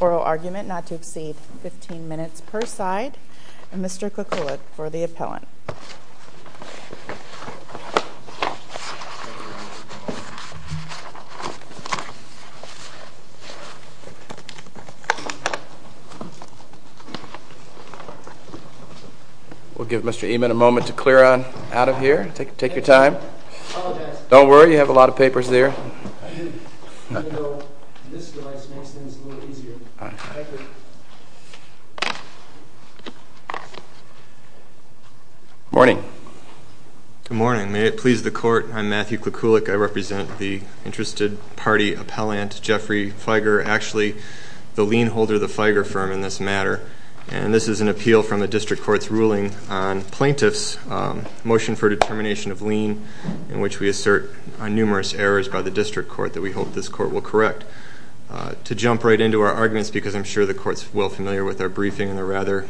Oral argument not to exceed 15 minutes per side. Mr. Cook will look for the appellant. We'll give Mr. Eman a moment to clear on out of here. Take your time. Don't worry, you have a lot of papers there. Morning. Good morning. May it please the court, I'm Matthew Klikulik. I represent the interested party appellant Jeffrey Feiger, actually the lien holder of the Feiger firm in this matter. And this is an appeal from the district court's ruling on plaintiff's motion for determination of lien in which we assert numerous errors by the district court that we hope this court will correct. To jump right into our arguments because I'm sure the court's well familiar with our briefing and the rather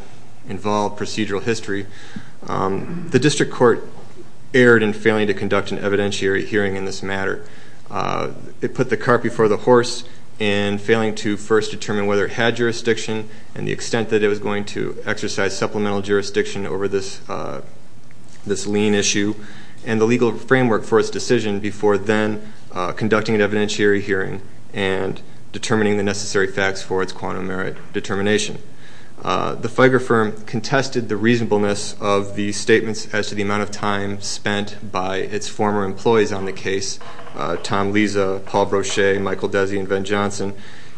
involved procedural history. The district court erred in failing to conduct an evidentiary hearing in this matter. It put the cart before the horse in failing to first determine whether it had jurisdiction and the extent that it was going to exercise supplemental jurisdiction over this lien issue and the legal framework for its decision before then conducting an evidentiary hearing and determining the necessary facts for its quantum merit determination. The Feiger firm contested the reasonableness of the statements as to the amount of time spent by its former employees on the case. Tom Liza, Paul Brochet, Michael Desi, and Ben Johnson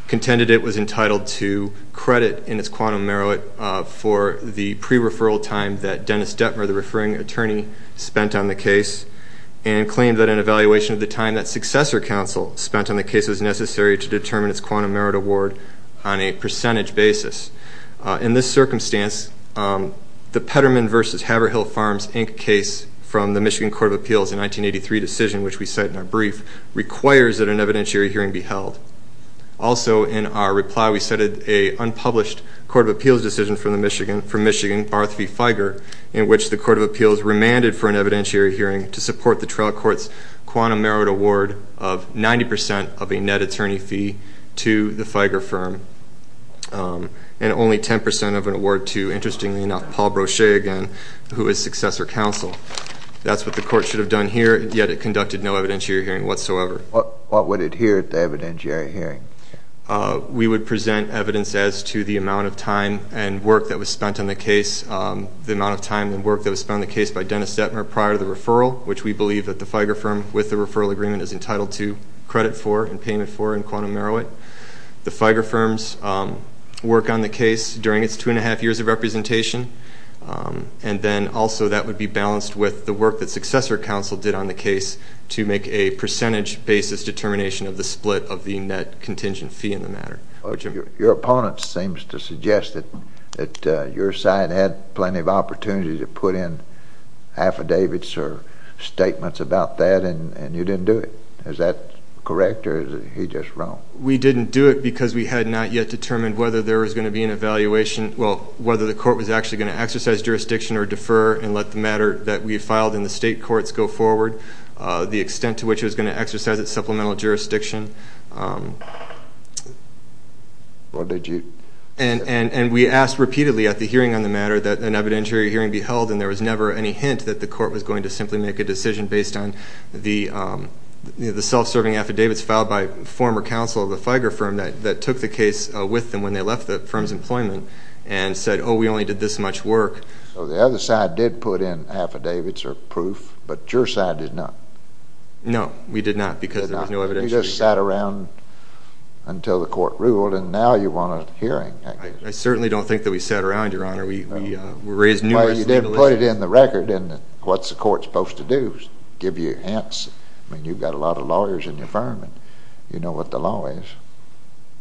contended it was entitled to credit in its quantum merit for the pre-referral time that Dennis Detmer, the referring attorney, spent on the case and claimed that an evaluation of the time that successor counsel spent on the case was necessary to determine its quantum merit award on a percentage basis. In this circumstance, the Peterman v. Haverhill Farms, Inc. case from the Michigan Court of Appeals in 1983 decision, which we cite in our brief, requires that an evidentiary hearing be held. Also, in our reply, we cited an unpublished Court of Appeals decision from Michigan, Barth v. Feiger, in which the Court of Appeals remanded for an evidentiary hearing to support the trial court's quantum merit award of 90 percent of a net attorney fee to the Feiger firm and only 10 percent of an award to, interestingly enough, Paul Brochet again, who is successor counsel. That's what the court should have done here, yet it conducted no evidentiary hearing whatsoever. What would adhere to evidentiary hearing? We would present evidence as to the amount of time and work that was spent on the case, the amount of time and work that was spent on the case by Dennis Detmer prior to the referral, which we believe that the Feiger firm with the referral agreement is entitled to credit for and payment for in quantum merit. The Feiger firms work on the case during its two and a half years of representation, and then also that would be balanced with the work that successor counsel did on the case to make a percentage basis determination of the split of the net contingent fee in the matter. Your opponent seems to suggest that your side had plenty of opportunity to put in affidavits or statements about that, and you didn't do it. Is that correct, or is he just wrong? We didn't do it because we had not yet determined whether there was going to be an evaluation, well, whether the court was actually going to exercise jurisdiction or defer and let the matter that we filed in the state courts go forward, the extent to which it was going to exercise its supplemental jurisdiction. And we asked repeatedly at the hearing on the matter that an evidentiary hearing be held, and there was never any hint that the court was going to simply make a decision based on the self-serving affidavits filed by former counsel of the Feiger firm that took the case with them when they left the firm's employment and said, oh, we only did this much work. So the other side did put in affidavits or proof, but your side did not. No, we did not because there was no evidentiary. You just sat around until the court ruled, and now you want a hearing. I certainly don't think that we sat around, Your Honor. We raised numerous legal issues. Well, you didn't put it in the record, and what's the court supposed to do, give you hints? I mean, you've got a lot of lawyers in your firm, and you know what the law is.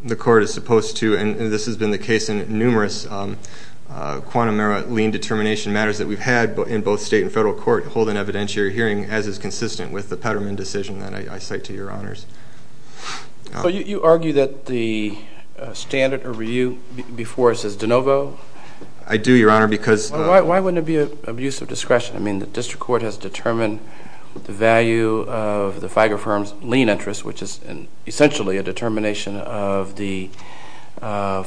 The court is supposed to, and this has been the case in numerous quantum era lien determination matters that we've had in both state and federal court, hold an evidentiary hearing as is consistent with the Peterman decision that I cite to Your Honors. So you argue that the standard review before us is de novo? I do, Your Honor, because—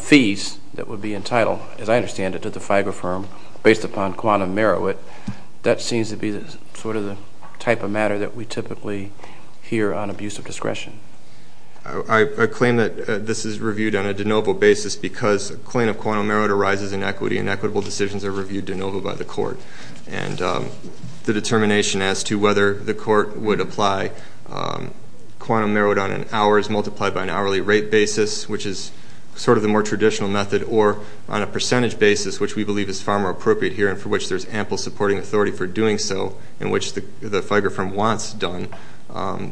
fees that would be entitled, as I understand it, to the FIBA firm based upon quantum merit. That seems to be sort of the type of matter that we typically hear on abuse of discretion. I claim that this is reviewed on a de novo basis because a claim of quantum merit arises in equity, and equitable decisions are reviewed de novo by the court. And the determination as to whether the court would apply quantum merit on an hours multiplied by an hourly rate basis, which is sort of the more traditional method, or on a percentage basis, which we believe is far more appropriate here and for which there's ample supporting authority for doing so, and which the FIBA firm wants done,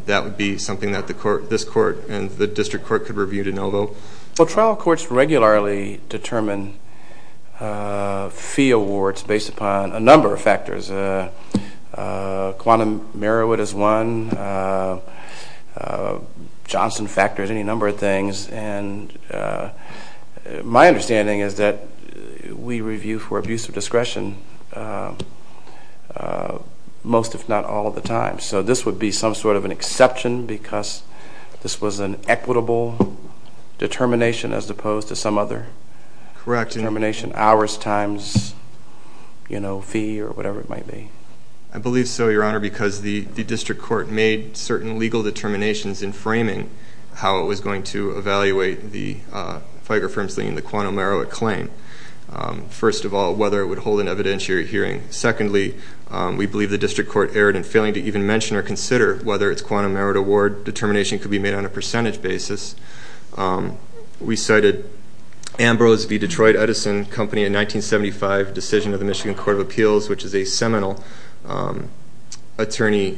that would be something that this court and the district court could review de novo. Well, trial courts regularly determine fee awards based upon a number of factors. Quantum merit is one. Johnson factors, any number of things. And my understanding is that we review for abuse of discretion most, if not all, of the time. So this would be some sort of an exception because this was an equitable determination as opposed to some other determination, hours times fee or whatever it might be. I believe so, Your Honor, because the district court made certain legal determinations in framing how it was going to evaluate the FIBA firm's claim, the quantum merit claim. First of all, whether it would hold an evidentiary hearing. Secondly, we believe the district court erred in failing to even mention or consider whether its quantum merit award determination could be made on a percentage basis. We cited Ambrose v. Detroit Edison Company in 1975 decision of the Michigan Court of Appeals, which is a seminal attorney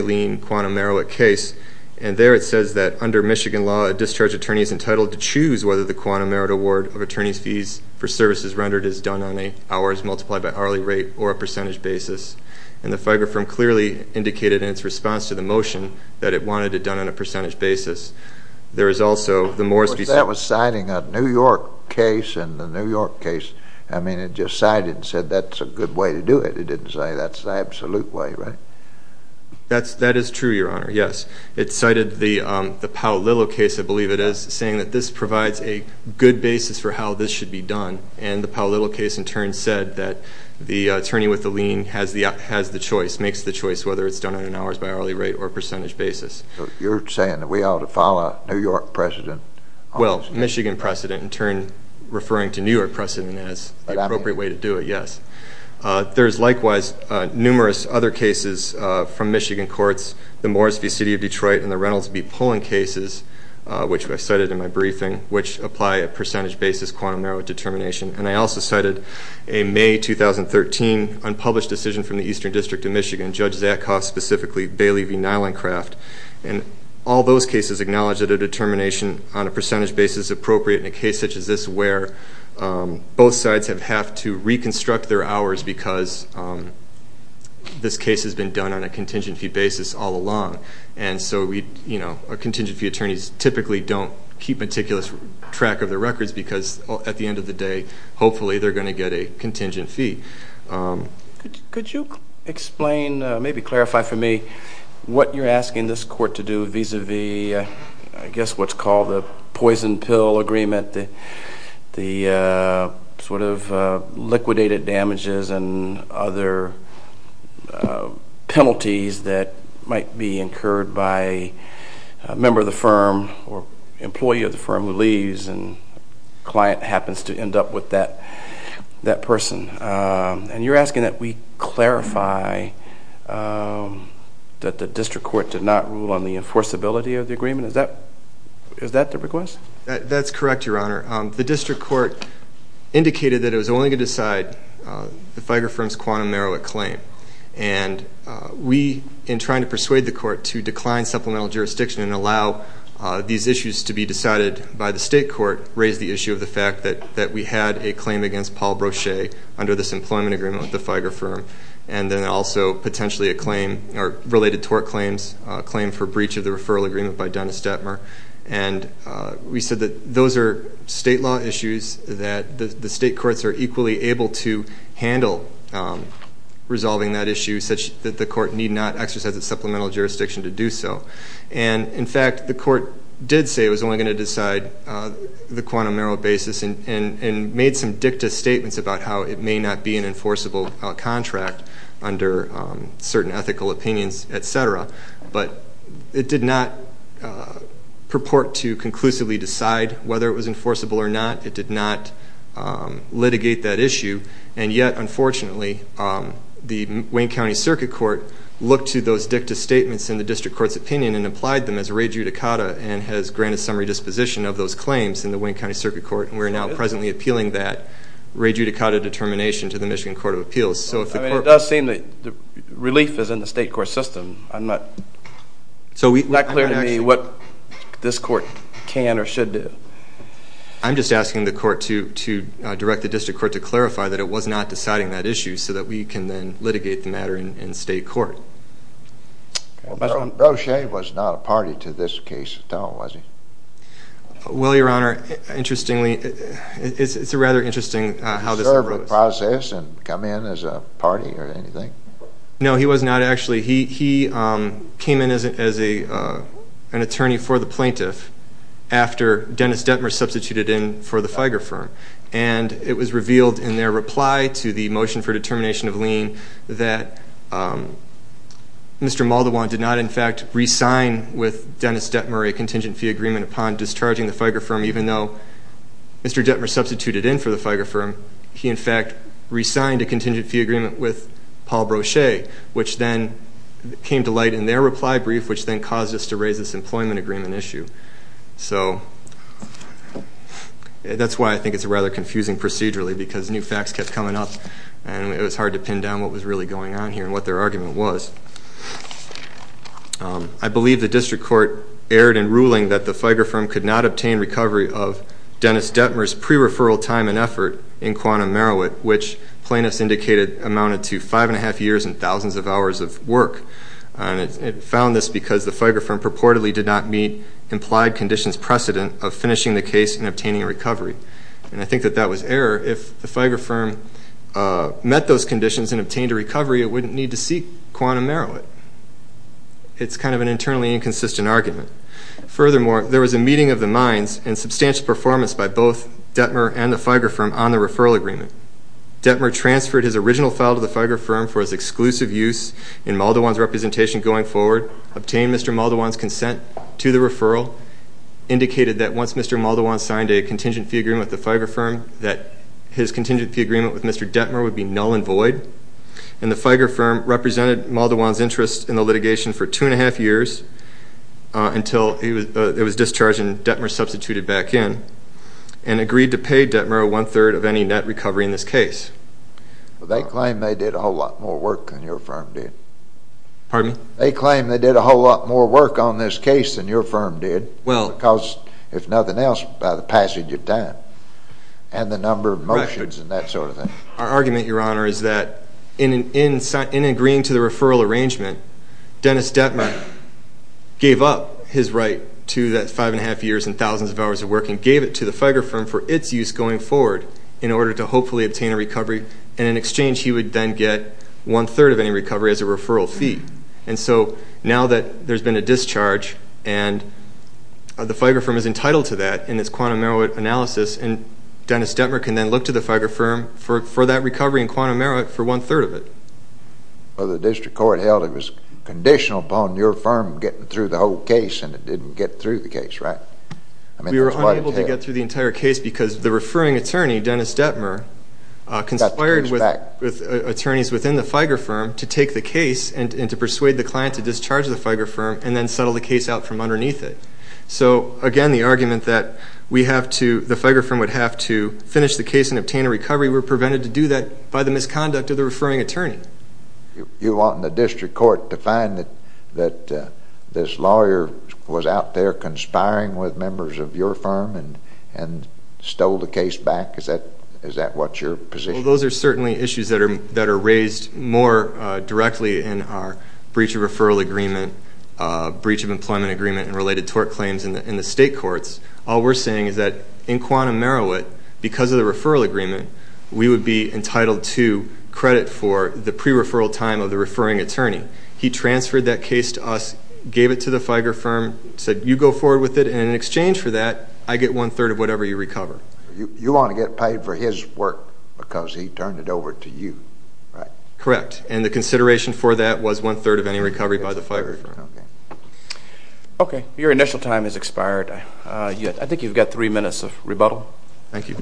lien quantum merit case. And there it says that under Michigan law, a discharge attorney is entitled to choose whether the quantum merit award of attorney's fees for services rendered is done on a hours multiplied by hourly rate or a percentage basis. And the FIBA firm clearly indicated in its response to the motion that it wanted it done on a percentage basis. There is also the Morris v. That was citing a New York case and the New York case, I mean, it just cited and said that's a good way to do it. It didn't say that's the absolute way, right? That is true, Your Honor, yes. It cited the Powell-Lillow case, I believe it is, saying that this provides a good basis for how this should be done. And the Powell-Lillow case in turn said that the attorney with the lien has the choice, makes the choice whether it's done on an hours by hourly rate or percentage basis. You're saying that we ought to follow New York precedent? Well, Michigan precedent in turn referring to New York precedent as the appropriate way to do it, yes. There is likewise numerous other cases from Michigan courts, the Morris v. City of Detroit and the Reynolds v. Pullen cases, which I cited in my briefing, which apply a percentage basis quantum narrow determination. And I also cited a May 2013 unpublished decision from the Eastern District of Michigan, Judge Zakoff specifically, Bailey v. Nylencraft, and all those cases acknowledge that a determination on a percentage basis is appropriate in a case such as this where both sides have to reconstruct their hours because this case has been done on a contingent fee basis all along. And so, you know, contingent fee attorneys typically don't keep meticulous track of their records because at the end of the day, hopefully they're going to get a contingent fee. Could you explain, maybe clarify for me what you're asking this court to do vis-à-vis, I guess what's called the poison pill agreement, the sort of liquidated damages and other penalties that might be incurred by a member of the firm or employee of the firm who leaves and a client happens to end up with that person. And you're asking that we clarify that the district court did not rule on the enforceability of the agreement? Is that the request? That's correct, Your Honor. The district court indicated that it was only going to decide the FIGRE firm's quantum merit claim. And we, in trying to persuade the court to decline supplemental jurisdiction and allow these issues to be decided by the state court, raised the issue of the fact that we had a claim against Paul Brochet under this employment agreement with the FIGRE firm and then also potentially a claim or related tort claims, a claim for breach of the referral agreement by Dennis Detmer. And we said that those are state law issues that the state courts are equally able to handle resolving that issue, such that the court need not exercise its supplemental jurisdiction to do so. And, in fact, the court did say it was only going to decide the quantum merit basis and made some dicta statements about how it may not be an enforceable contract under certain ethical opinions, et cetera. But it did not purport to conclusively decide whether it was enforceable or not. It did not litigate that issue. And yet, unfortunately, the Wayne County Circuit Court looked to those dicta statements in the district court's opinion and applied them as re judicata and has granted summary disposition of those claims in the Wayne County Circuit Court. And we are now presently appealing that re judicata determination to the Michigan Court of Appeals. I mean, it does seem that relief is in the state court system. I'm not clear to me what this court can or should do. I'm just asking the court to direct the district court to clarify that it was not deciding that issue so that we can then litigate the matter in state court. Brochet was not a party to this case at all, was he? Well, Your Honor, interestingly, it's a rather interesting how this unfolds. Did he process and come in as a party or anything? No, he was not, actually. He came in as an attorney for the plaintiff after Dennis Detmer substituted in for the FIGER firm. And it was revealed in their reply to the motion for determination of lien that Mr. Maldowan did not, in fact, resign with Dennis Detmer a contingent fee agreement upon discharging the FIGER firm even though Mr. Detmer substituted in for the FIGER firm. He, in fact, resigned a contingent fee agreement with Paul Brochet, which then came to light in their reply brief, which then caused us to raise this employment agreement issue. So that's why I think it's a rather confusing procedurally because new facts kept coming up and it was hard to pin down what was really going on here and what their argument was. I believe the district court erred in ruling that the FIGER firm could not obtain recovery of Dennis Detmer's pre-referral time and effort in Quantum Meroweth, which plaintiffs indicated amounted to five and a half years and thousands of hours of work. And it found this because the FIGER firm purportedly did not meet implied conditions precedent of finishing the case and obtaining a recovery. And I think that that was error. If the FIGER firm met those conditions and obtained a recovery, it wouldn't need to seek Quantum Meroweth. It's kind of an internally inconsistent argument. Furthermore, there was a meeting of the minds and substantial performance by both Detmer and the FIGER firm on the referral agreement. Detmer transferred his original file to the FIGER firm for his exclusive use in Muldowan's representation going forward, indicated that once Mr. Muldowan signed a contingent fee agreement with the FIGER firm, that his contingent fee agreement with Mr. Detmer would be null and void. And the FIGER firm represented Muldowan's interest in the litigation for two and a half years until it was discharged and Detmer substituted back in and agreed to pay Detmer one-third of any net recovery in this case. They claim they did a whole lot more work than your firm did. Pardon me? They claim they did a whole lot more work on this case than your firm did because, if nothing else, by the passage of time and the number of motions and that sort of thing. Our argument, Your Honor, is that in agreeing to the referral arrangement, Dennis Detmer gave up his right to that five and a half years and thousands of hours of work and gave it to the FIGER firm for its use going forward in order to hopefully obtain a recovery. And in exchange, he would then get one-third of any recovery as a referral fee. And so now that there's been a discharge and the FIGER firm is entitled to that in its quantum merit analysis, Dennis Detmer can then look to the FIGER firm for that recovery in quantum merit for one-third of it. Well, the district court held it was conditional upon your firm getting through the whole case and it didn't get through the case, right? We were unable to get through the entire case because the referring attorney, Dennis Detmer, conspired with attorneys within the FIGER firm to take the case and to persuade the client to discharge the FIGER firm and then settle the case out from underneath it. So, again, the argument that the FIGER firm would have to finish the case and obtain a recovery, we were prevented to do that by the misconduct of the referring attorney. You want the district court to find that this lawyer was out there conspiring with members of your firm and stole the case back? Is that what your position is? Well, those are certainly issues that are raised more directly in our breach of referral agreement, breach of employment agreement, and related tort claims in the state courts. All we're saying is that in quantum merit, because of the referral agreement, we would be entitled to credit for the pre-referral time of the referring attorney. He transferred that case to us, gave it to the FIGER firm, said, you go forward with it, and in exchange for that, I get one-third of whatever you recover. You want to get paid for his work because he turned it over to you, right? Correct. And the consideration for that was one-third of any recovery by the FIGER firm. Okay. Your initial time has expired. I think you've got three minutes of rebuttal. Thank you.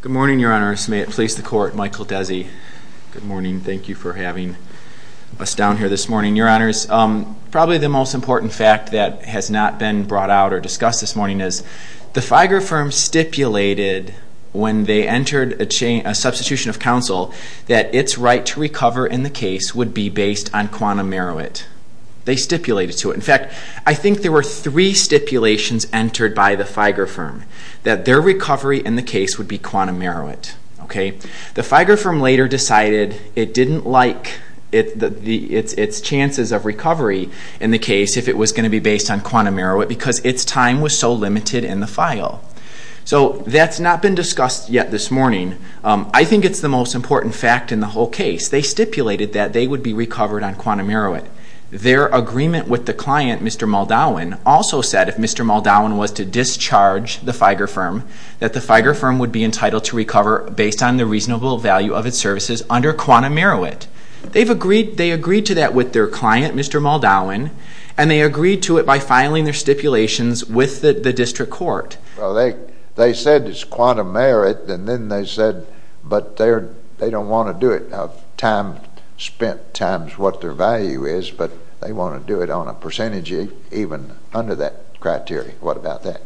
Good morning, Your Honor. May it please the Court, Michael Desi. Good morning. Thank you for having us down here this morning. Your Honors, probably the most important fact that has not been brought out or discussed this morning is the FIGER firm stipulated when they entered a substitution of counsel that its right to recover in the case would be based on quantum merit. They stipulated to it. In fact, I think there were three stipulations entered by the FIGER firm that their recovery in the case would be quantum merit. Okay. The FIGER firm later decided it didn't like its chances of recovery in the case if it was going to be based on quantum merit because its time was so limited in the file. So that's not been discussed yet this morning. I think it's the most important fact in the whole case. They stipulated that they would be recovered on quantum merit. Their agreement with the client, Mr. Muldowan, also said if Mr. Muldowan was to discharge the FIGER firm, that the FIGER firm would be entitled to recover based on the reasonable value of its services under quantum merit. They agreed to that with their client, Mr. Muldowan, and they agreed to it by filing their stipulations with the district court. Well, they said it's quantum merit, and then they said they don't want to do it. Time spent times what their value is, but they want to do it on a percentage even under that criteria. What about that?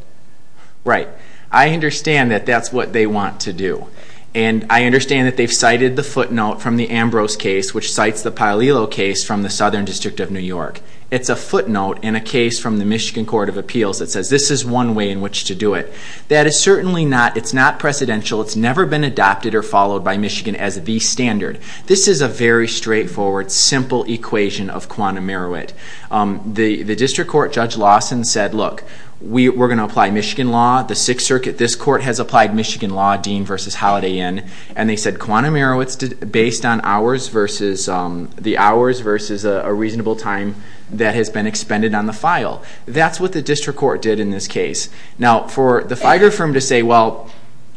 Right. I understand that that's what they want to do, and I understand that they've cited the footnote from the Ambrose case, which cites the Paolillo case from the Southern District of New York. It's a footnote in a case from the Michigan Court of Appeals that says this is one way in which to do it. That is certainly not precedential. It's never been adopted or followed by Michigan as the standard. This is a very straightforward, simple equation of quantum merit. The district court, Judge Lawson, said, look, we're going to apply Michigan law. The Sixth Circuit, this court, has applied Michigan law, Dean versus Holiday Inn, and they said quantum merit is based on the hours versus a reasonable time that has been expended on the file. That's what the district court did in this case. Now, for the FIGER firm to say, well,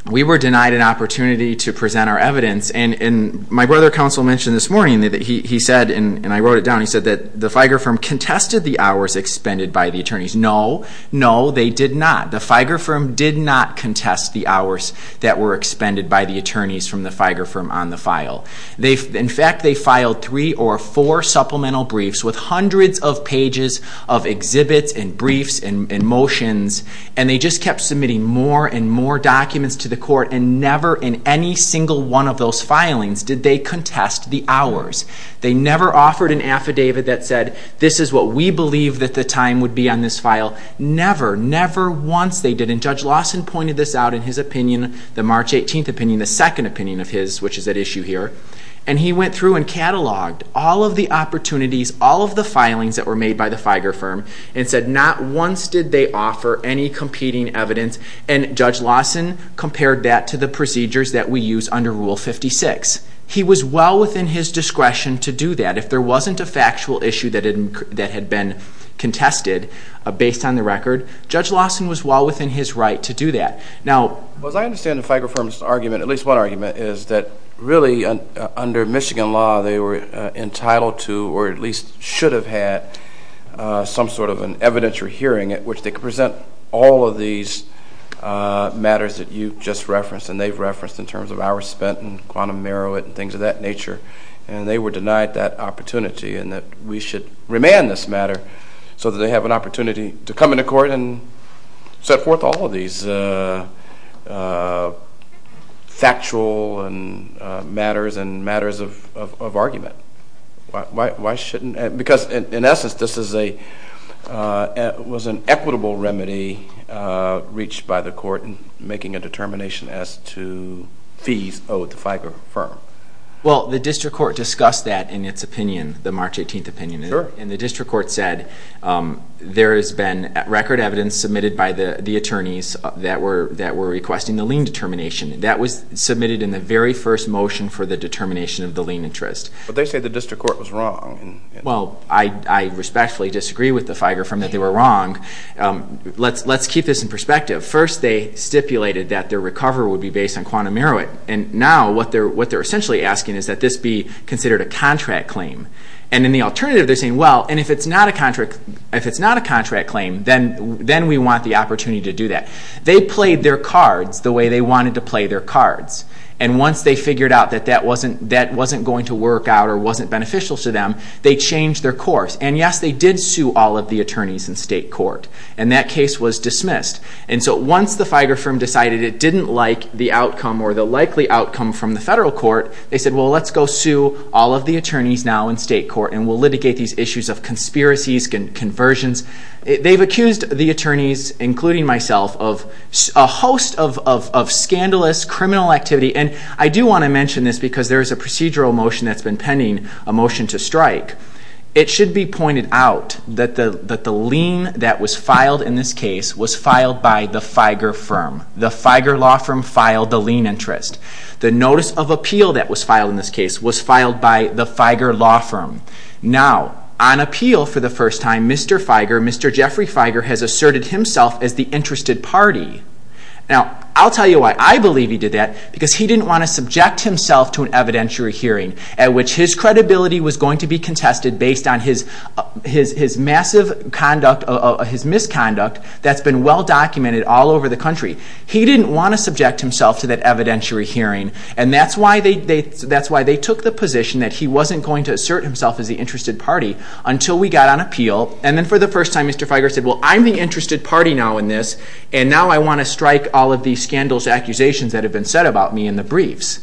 we were denied an opportunity to present our evidence, and my brother counsel mentioned this morning that he said, and I wrote it down, he said that the FIGER firm contested the hours expended by the attorneys. No, no, they did not. The FIGER firm did not contest the hours that were expended by the attorneys from the FIGER firm on the file. In fact, they filed three or four supplemental briefs with hundreds of pages of exhibits and briefs and motions, and they just kept submitting more and more documents to the court, and never in any single one of those filings did they contest the hours. They never offered an affidavit that said, this is what we believe that the time would be on this file. Never, never once they did, and Judge Lawson pointed this out in his opinion, the March 18th opinion, the second opinion of his, which is at issue here, and he went through and cataloged all of the opportunities, all of the filings that were made by the FIGER firm, and said not once did they offer any competing evidence, and Judge Lawson compared that to the procedures that we use under Rule 56. He was well within his discretion to do that. If there wasn't a factual issue that had been contested based on the record, Judge Lawson was well within his right to do that. Now, as I understand the FIGER firm's argument, at least one argument, is that really under Michigan law they were entitled to, or at least should have had, some sort of an evidentiary hearing at which they could present all of these matters that you just referenced, and they've referenced in terms of hours spent in quantum merit and things of that nature, and they were denied that opportunity, and that we should remand this matter so that they have an opportunity to come into court and set forth all of these factual matters and matters of argument. Why shouldn't, because in essence this was an equitable remedy reached by the court in making a determination as to fees owed to FIGER firm. Well, the district court discussed that in its opinion, the March 18th opinion, and the district court said there has been record evidence submitted by the attorneys that were requesting the lien determination. That was submitted in the very first motion for the determination of the lien interest. But they said the district court was wrong. Well, I respectfully disagree with the FIGER firm that they were wrong. Let's keep this in perspective. First, they stipulated that their recovery would be based on quantum merit, and now what they're essentially asking is that this be considered a contract claim. And in the alternative, they're saying, well, and if it's not a contract claim, then we want the opportunity to do that. They played their cards the way they wanted to play their cards. And once they figured out that that wasn't going to work out or wasn't beneficial to them, they changed their course. And yes, they did sue all of the attorneys in state court, and that case was dismissed. And so once the FIGER firm decided it didn't like the outcome or the likely outcome from the federal court, they said, well, let's go sue all of the attorneys now in state court and we'll litigate these issues of conspiracies, conversions. They've accused the attorneys, including myself, of a host of scandalous criminal activity. And I do want to mention this because there is a procedural motion that's been pending, a motion to strike. It should be pointed out that the lien that was filed in this case was filed by the FIGER firm. The FIGER law firm filed the lien interest. The notice of appeal that was filed in this case was filed by the FIGER law firm. Now, on appeal for the first time, Mr. FIGER, Mr. Jeffrey FIGER, has asserted himself as the interested party. Now, I'll tell you why I believe he did that, because he didn't want to subject himself to an evidentiary hearing at which his credibility was going to be contested based on his massive misconduct that's been well documented all over the country. He didn't want to subject himself to that evidentiary hearing, and that's why they took the position that he wasn't going to assert himself as the interested party until we got on appeal. And then for the first time, Mr. FIGER said, well, I'm the interested party now in this, and now I want to strike all of these scandalous accusations that have been said about me in the briefs.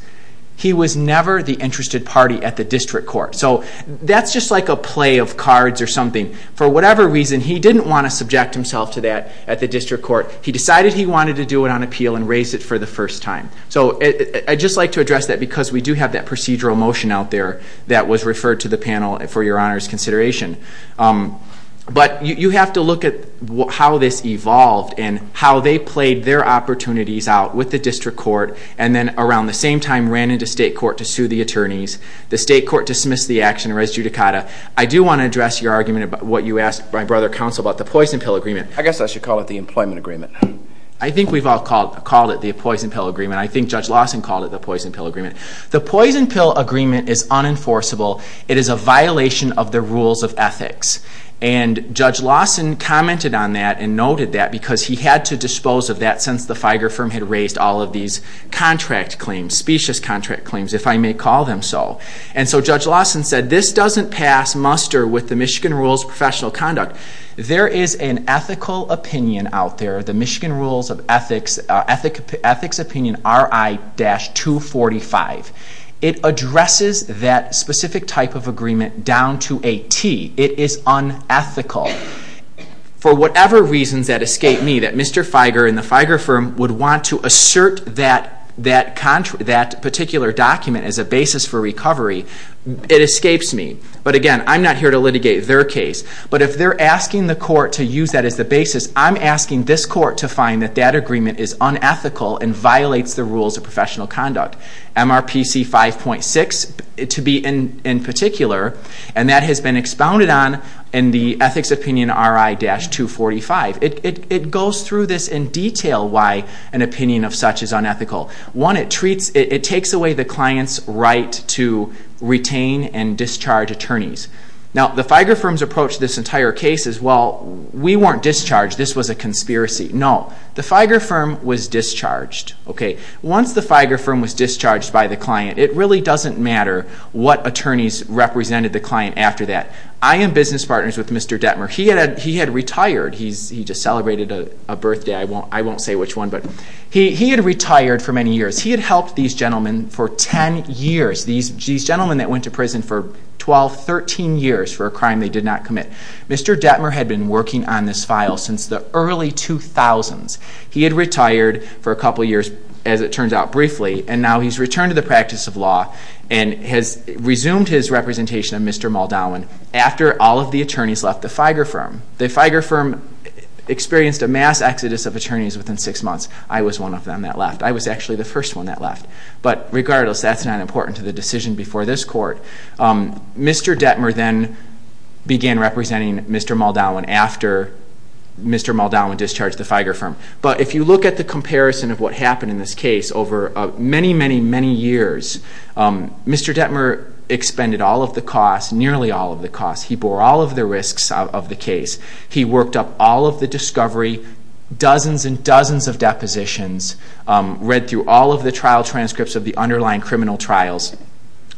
He was never the interested party at the district court. So that's just like a play of cards or something. For whatever reason, he didn't want to subject himself to that at the district court. He decided he wanted to do it on appeal and raised it for the first time. So I'd just like to address that because we do have that procedural motion out there that was referred to the panel for Your Honor's consideration. But you have to look at how this evolved and how they played their opportunities out with the district court and then around the same time ran into state court to sue the attorneys. The state court dismissed the action and res judicata. I do want to address your argument about what you asked my brother, Counsel, about the poison pill agreement. I guess I should call it the employment agreement. I think we've all called it the poison pill agreement. I think Judge Lawson called it the poison pill agreement. The poison pill agreement is unenforceable. It is a violation of the rules of ethics. And Judge Lawson commented on that and noted that because he had to dispose of that since the FIGER firm had raised all of these contract claims, specious contract claims, if I may call them so. And so Judge Lawson said this doesn't pass muster with the Michigan rules of professional conduct. There is an ethical opinion out there, the Michigan rules of ethics, ethics opinion RI-245. It addresses that specific type of agreement down to a T. It is unethical. For whatever reasons that escape me that Mr. FIGER and the FIGER firm would want to assert that particular document as a basis for recovery, it escapes me. But again, I'm not here to litigate their case. But if they're asking the court to use that as the basis, I'm asking this court to find that that agreement is unethical and violates the rules of professional conduct. MRPC 5.6 to be in particular, and that has been expounded on in the ethics opinion RI-245. It goes through this in detail why an opinion of such is unethical. One, it takes away the client's right to retain and discharge attorneys. Now, the FIGER firm's approach to this entire case is, well, we weren't discharged. This was a conspiracy. No. The FIGER firm was discharged. Once the FIGER firm was discharged by the client, it really doesn't matter what attorneys represented the client after that. I am business partners with Mr. Detmer. He had retired. He just celebrated a birthday. I won't say which one. But he had retired for many years. He had helped these gentlemen for 10 years. These gentlemen that went to prison for 12, 13 years for a crime they did not commit. Mr. Detmer had been working on this file since the early 2000s. He had retired for a couple years, as it turns out, briefly, and now he's returned to the practice of law and has resumed his representation of Mr. Muldowen after all of the attorneys left the FIGER firm. The FIGER firm experienced a mass exodus of attorneys within six months. I was one of them that left. I was actually the first one that left. But regardless, that's not important to the decision before this court. Mr. Detmer then began representing Mr. Muldowen after Mr. Muldowen discharged the FIGER firm. But if you look at the comparison of what happened in this case over many, many, many years, Mr. Detmer expended all of the costs, nearly all of the costs. He bore all of the risks of the case. He worked up all of the discovery, dozens and dozens of depositions, read through all of the trial transcripts of the underlying criminal trials,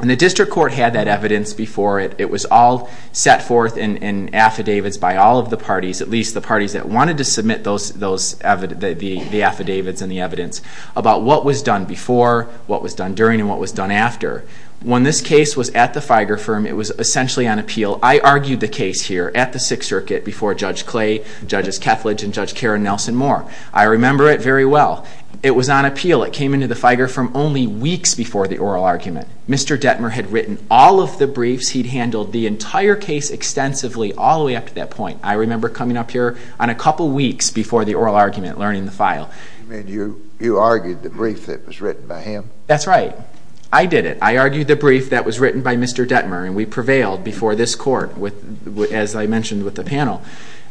and the district court had that evidence before it. It was all set forth in affidavits by all of the parties, at least the parties that wanted to submit the affidavits and the evidence, about what was done before, what was done during, and what was done after. When this case was at the FIGER firm, it was essentially on appeal. I argued the case here at the Sixth Circuit before Judge Clay, Judges Kethledge, and Judge Karen Nelson-Moore. I remember it very well. It was on appeal. It came into the FIGER firm only weeks before the oral argument. Mr. Detmer had written all of the briefs. He'd handled the entire case extensively all the way up to that point. I remember coming up here on a couple weeks before the oral argument, learning the file. You mean you argued the brief that was written by him? That's right. I did it. I argued the brief that was written by Mr. Detmer, and we prevailed before this court, as I mentioned with the panel.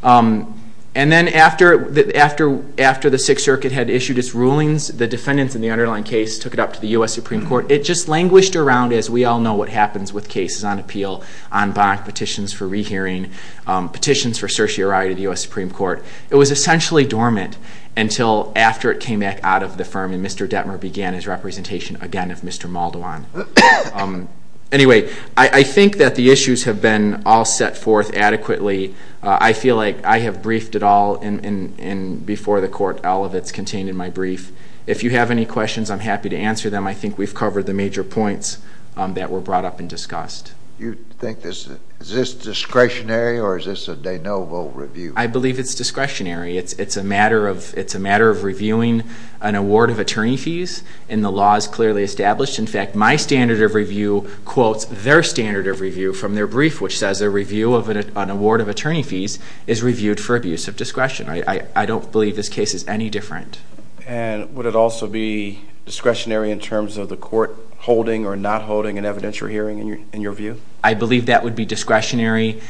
And then after the Sixth Circuit had issued its rulings, the defendants in the underlying case took it up to the U.S. Supreme Court. It just languished around, as we all know what happens with cases on appeal, en banc, petitions for rehearing, petitions for certiorari to the U.S. Supreme Court. It was essentially dormant until after it came back out of the firm, and Mr. Detmer began his representation again of Mr. Maldwan. Anyway, I think that the issues have been all set forth adequately. I feel like I have briefed it all, and before the court, all of it is contained in my brief. If you have any questions, I'm happy to answer them. I think we've covered the major points that were brought up and discussed. You think this is discretionary, or is this a de novo review? I believe it's discretionary. It's a matter of reviewing an award of attorney fees, and the law is clearly established. In fact, my standard of review quotes their standard of review from their brief, which says a review of an award of attorney fees is reviewed for abuse of discretion. I don't believe this case is any different. And would it also be discretionary in terms of the court holding or not holding an evidentiary hearing, in your view? I believe that would be discretionary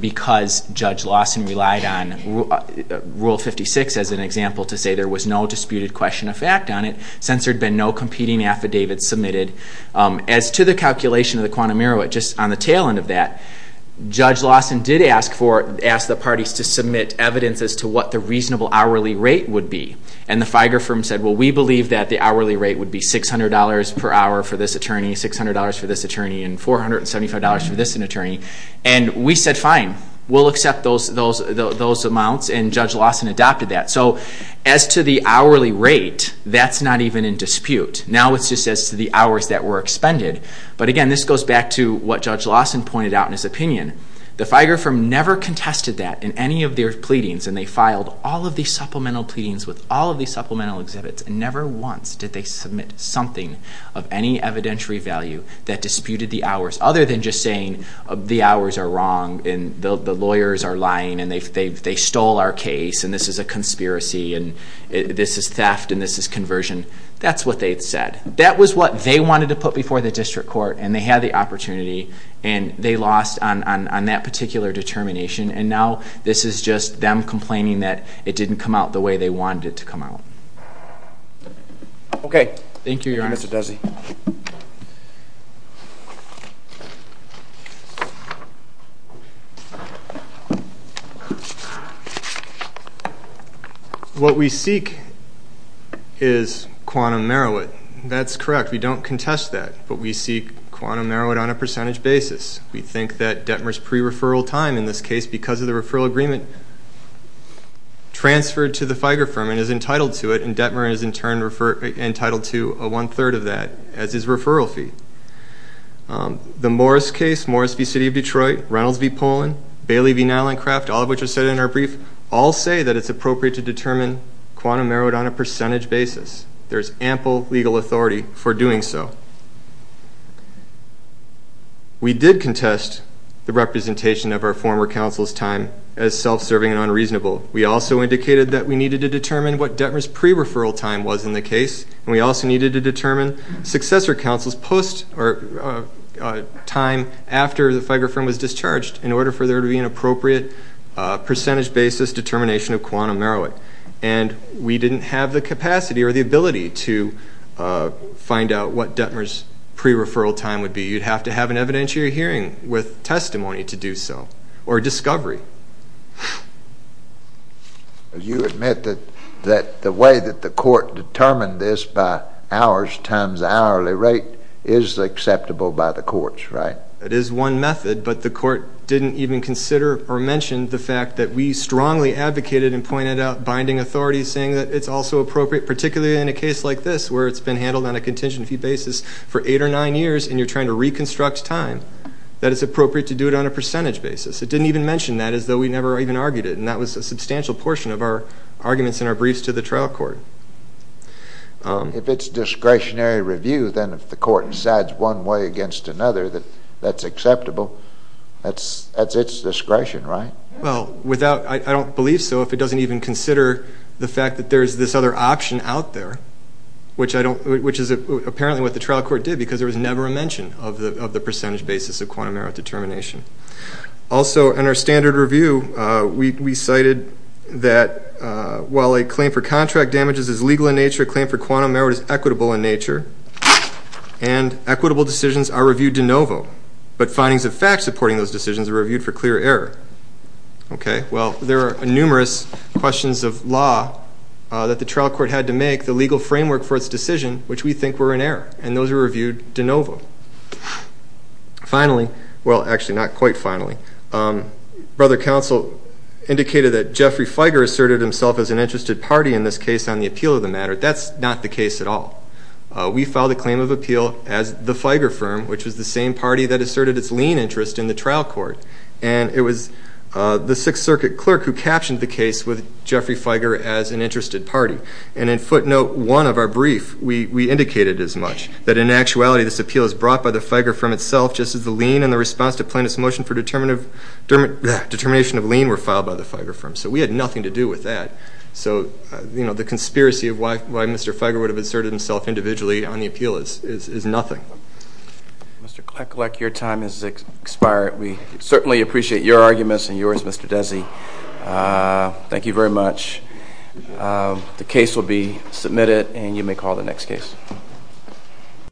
because Judge Lawson relied on Rule 56, as an example, to say there was no disputed question of fact on it since there had been no competing affidavits submitted. As to the calculation of the quantum error, just on the tail end of that, Judge Lawson did ask the parties to submit evidence as to what the reasonable hourly rate would be. And the FIGER firm said, well, we believe that the hourly rate would be $600 per hour for this attorney, $600 for this attorney, and $475 for this attorney. And we said, fine, we'll accept those amounts, and Judge Lawson adopted that. So as to the hourly rate, that's not even in dispute. Now it's just as to the hours that were expended. But again, this goes back to what Judge Lawson pointed out in his opinion. The FIGER firm never contested that in any of their pleadings, and they filed all of these supplemental pleadings with all of these supplemental exhibits, and never once did they submit something of any evidentiary value that disputed the hours, other than just saying the hours are wrong and the lawyers are lying and they stole our case and this is a conspiracy and this is theft and this is conversion. That's what they said. That was what they wanted to put before the district court, and they had the opportunity, and they lost on that particular determination. And now this is just them complaining that it didn't come out the way they wanted it to come out. Okay. Thank you, Mr. Desi. What we seek is quantum merowit. That's correct. We don't contest that, but we seek quantum merowit on a percentage basis. We think that Detmer's pre-referral time, in this case because of the referral agreement, transferred to the FIGER firm and is entitled to it, and Detmer is in turn entitled to a one-third of that as his referral fee. The Morris case, Morris v. City of Detroit, Reynolds v. Poland, Bailey v. Nylandcraft, all of which are cited in our brief, all say that it's appropriate to determine quantum merowit on a percentage basis. There's ample legal authority for doing so. We did contest the representation of our former counsel's time as self-serving and unreasonable. We also indicated that we needed to determine what Detmer's pre-referral time was in the case, and we also needed to determine successor counsel's time after the FIGER firm was discharged in order for there to be an appropriate percentage basis determination of quantum merowit. And we didn't have the capacity or the ability to find out what Detmer's pre-referral time would be. You'd have to have an evidentiary hearing with testimony to do so or discovery. You admit that the way that the court determined this by hours times hourly rate is acceptable by the courts, right? It is one method, but the court didn't even consider or mention the fact that we strongly advocated and pointed out binding authority, saying that it's also appropriate, particularly in a case like this where it's been handled on a contention fee basis for eight or nine years and you're trying to reconstruct time, that it's appropriate to do it on a percentage basis. It didn't even mention that as though we never even argued it, and that was a substantial portion of our arguments in our briefs to the trial court. If it's discretionary review, then if the court decides one way against another that that's acceptable, that's its discretion, right? Well, I don't believe so if it doesn't even consider the fact that there's this other option out there, which is apparently what the trial court did because there was never a mention of the percentage basis of quantum merit determination. Also, in our standard review, we cited that while a claim for contract damages is legal in nature, a claim for quantum merit is equitable in nature, and equitable decisions are reviewed de novo, but findings of fact supporting those decisions are reviewed for clear error. Well, there are numerous questions of law that the trial court had to make. The legal framework for its decision, which we think were in error, and those are reviewed de novo. Finally, well, actually not quite finally, Brother Counsel indicated that Jeffrey Feiger asserted himself as an interested party in this case on the appeal of the matter. That's not the case at all. We filed a claim of appeal as the Feiger firm, which was the same party that asserted its lien interest in the trial court, and it was the Sixth Circuit clerk who captioned the case with Jeffrey Feiger as an interested party, and in footnote one of our brief, we indicated as much, that in actuality this appeal is brought by the Feiger firm itself just as the lien and the response to plaintiff's motion for determination of lien were filed by the Feiger firm. So we had nothing to do with that. So, you know, the conspiracy of why Mr. Feiger would have asserted himself individually on the appeal is nothing. Mr. Kleckleck, your time has expired. We certainly appreciate your arguments and yours, Mr. Desi. Thank you very much. The case will be submitted, and you may call the next case.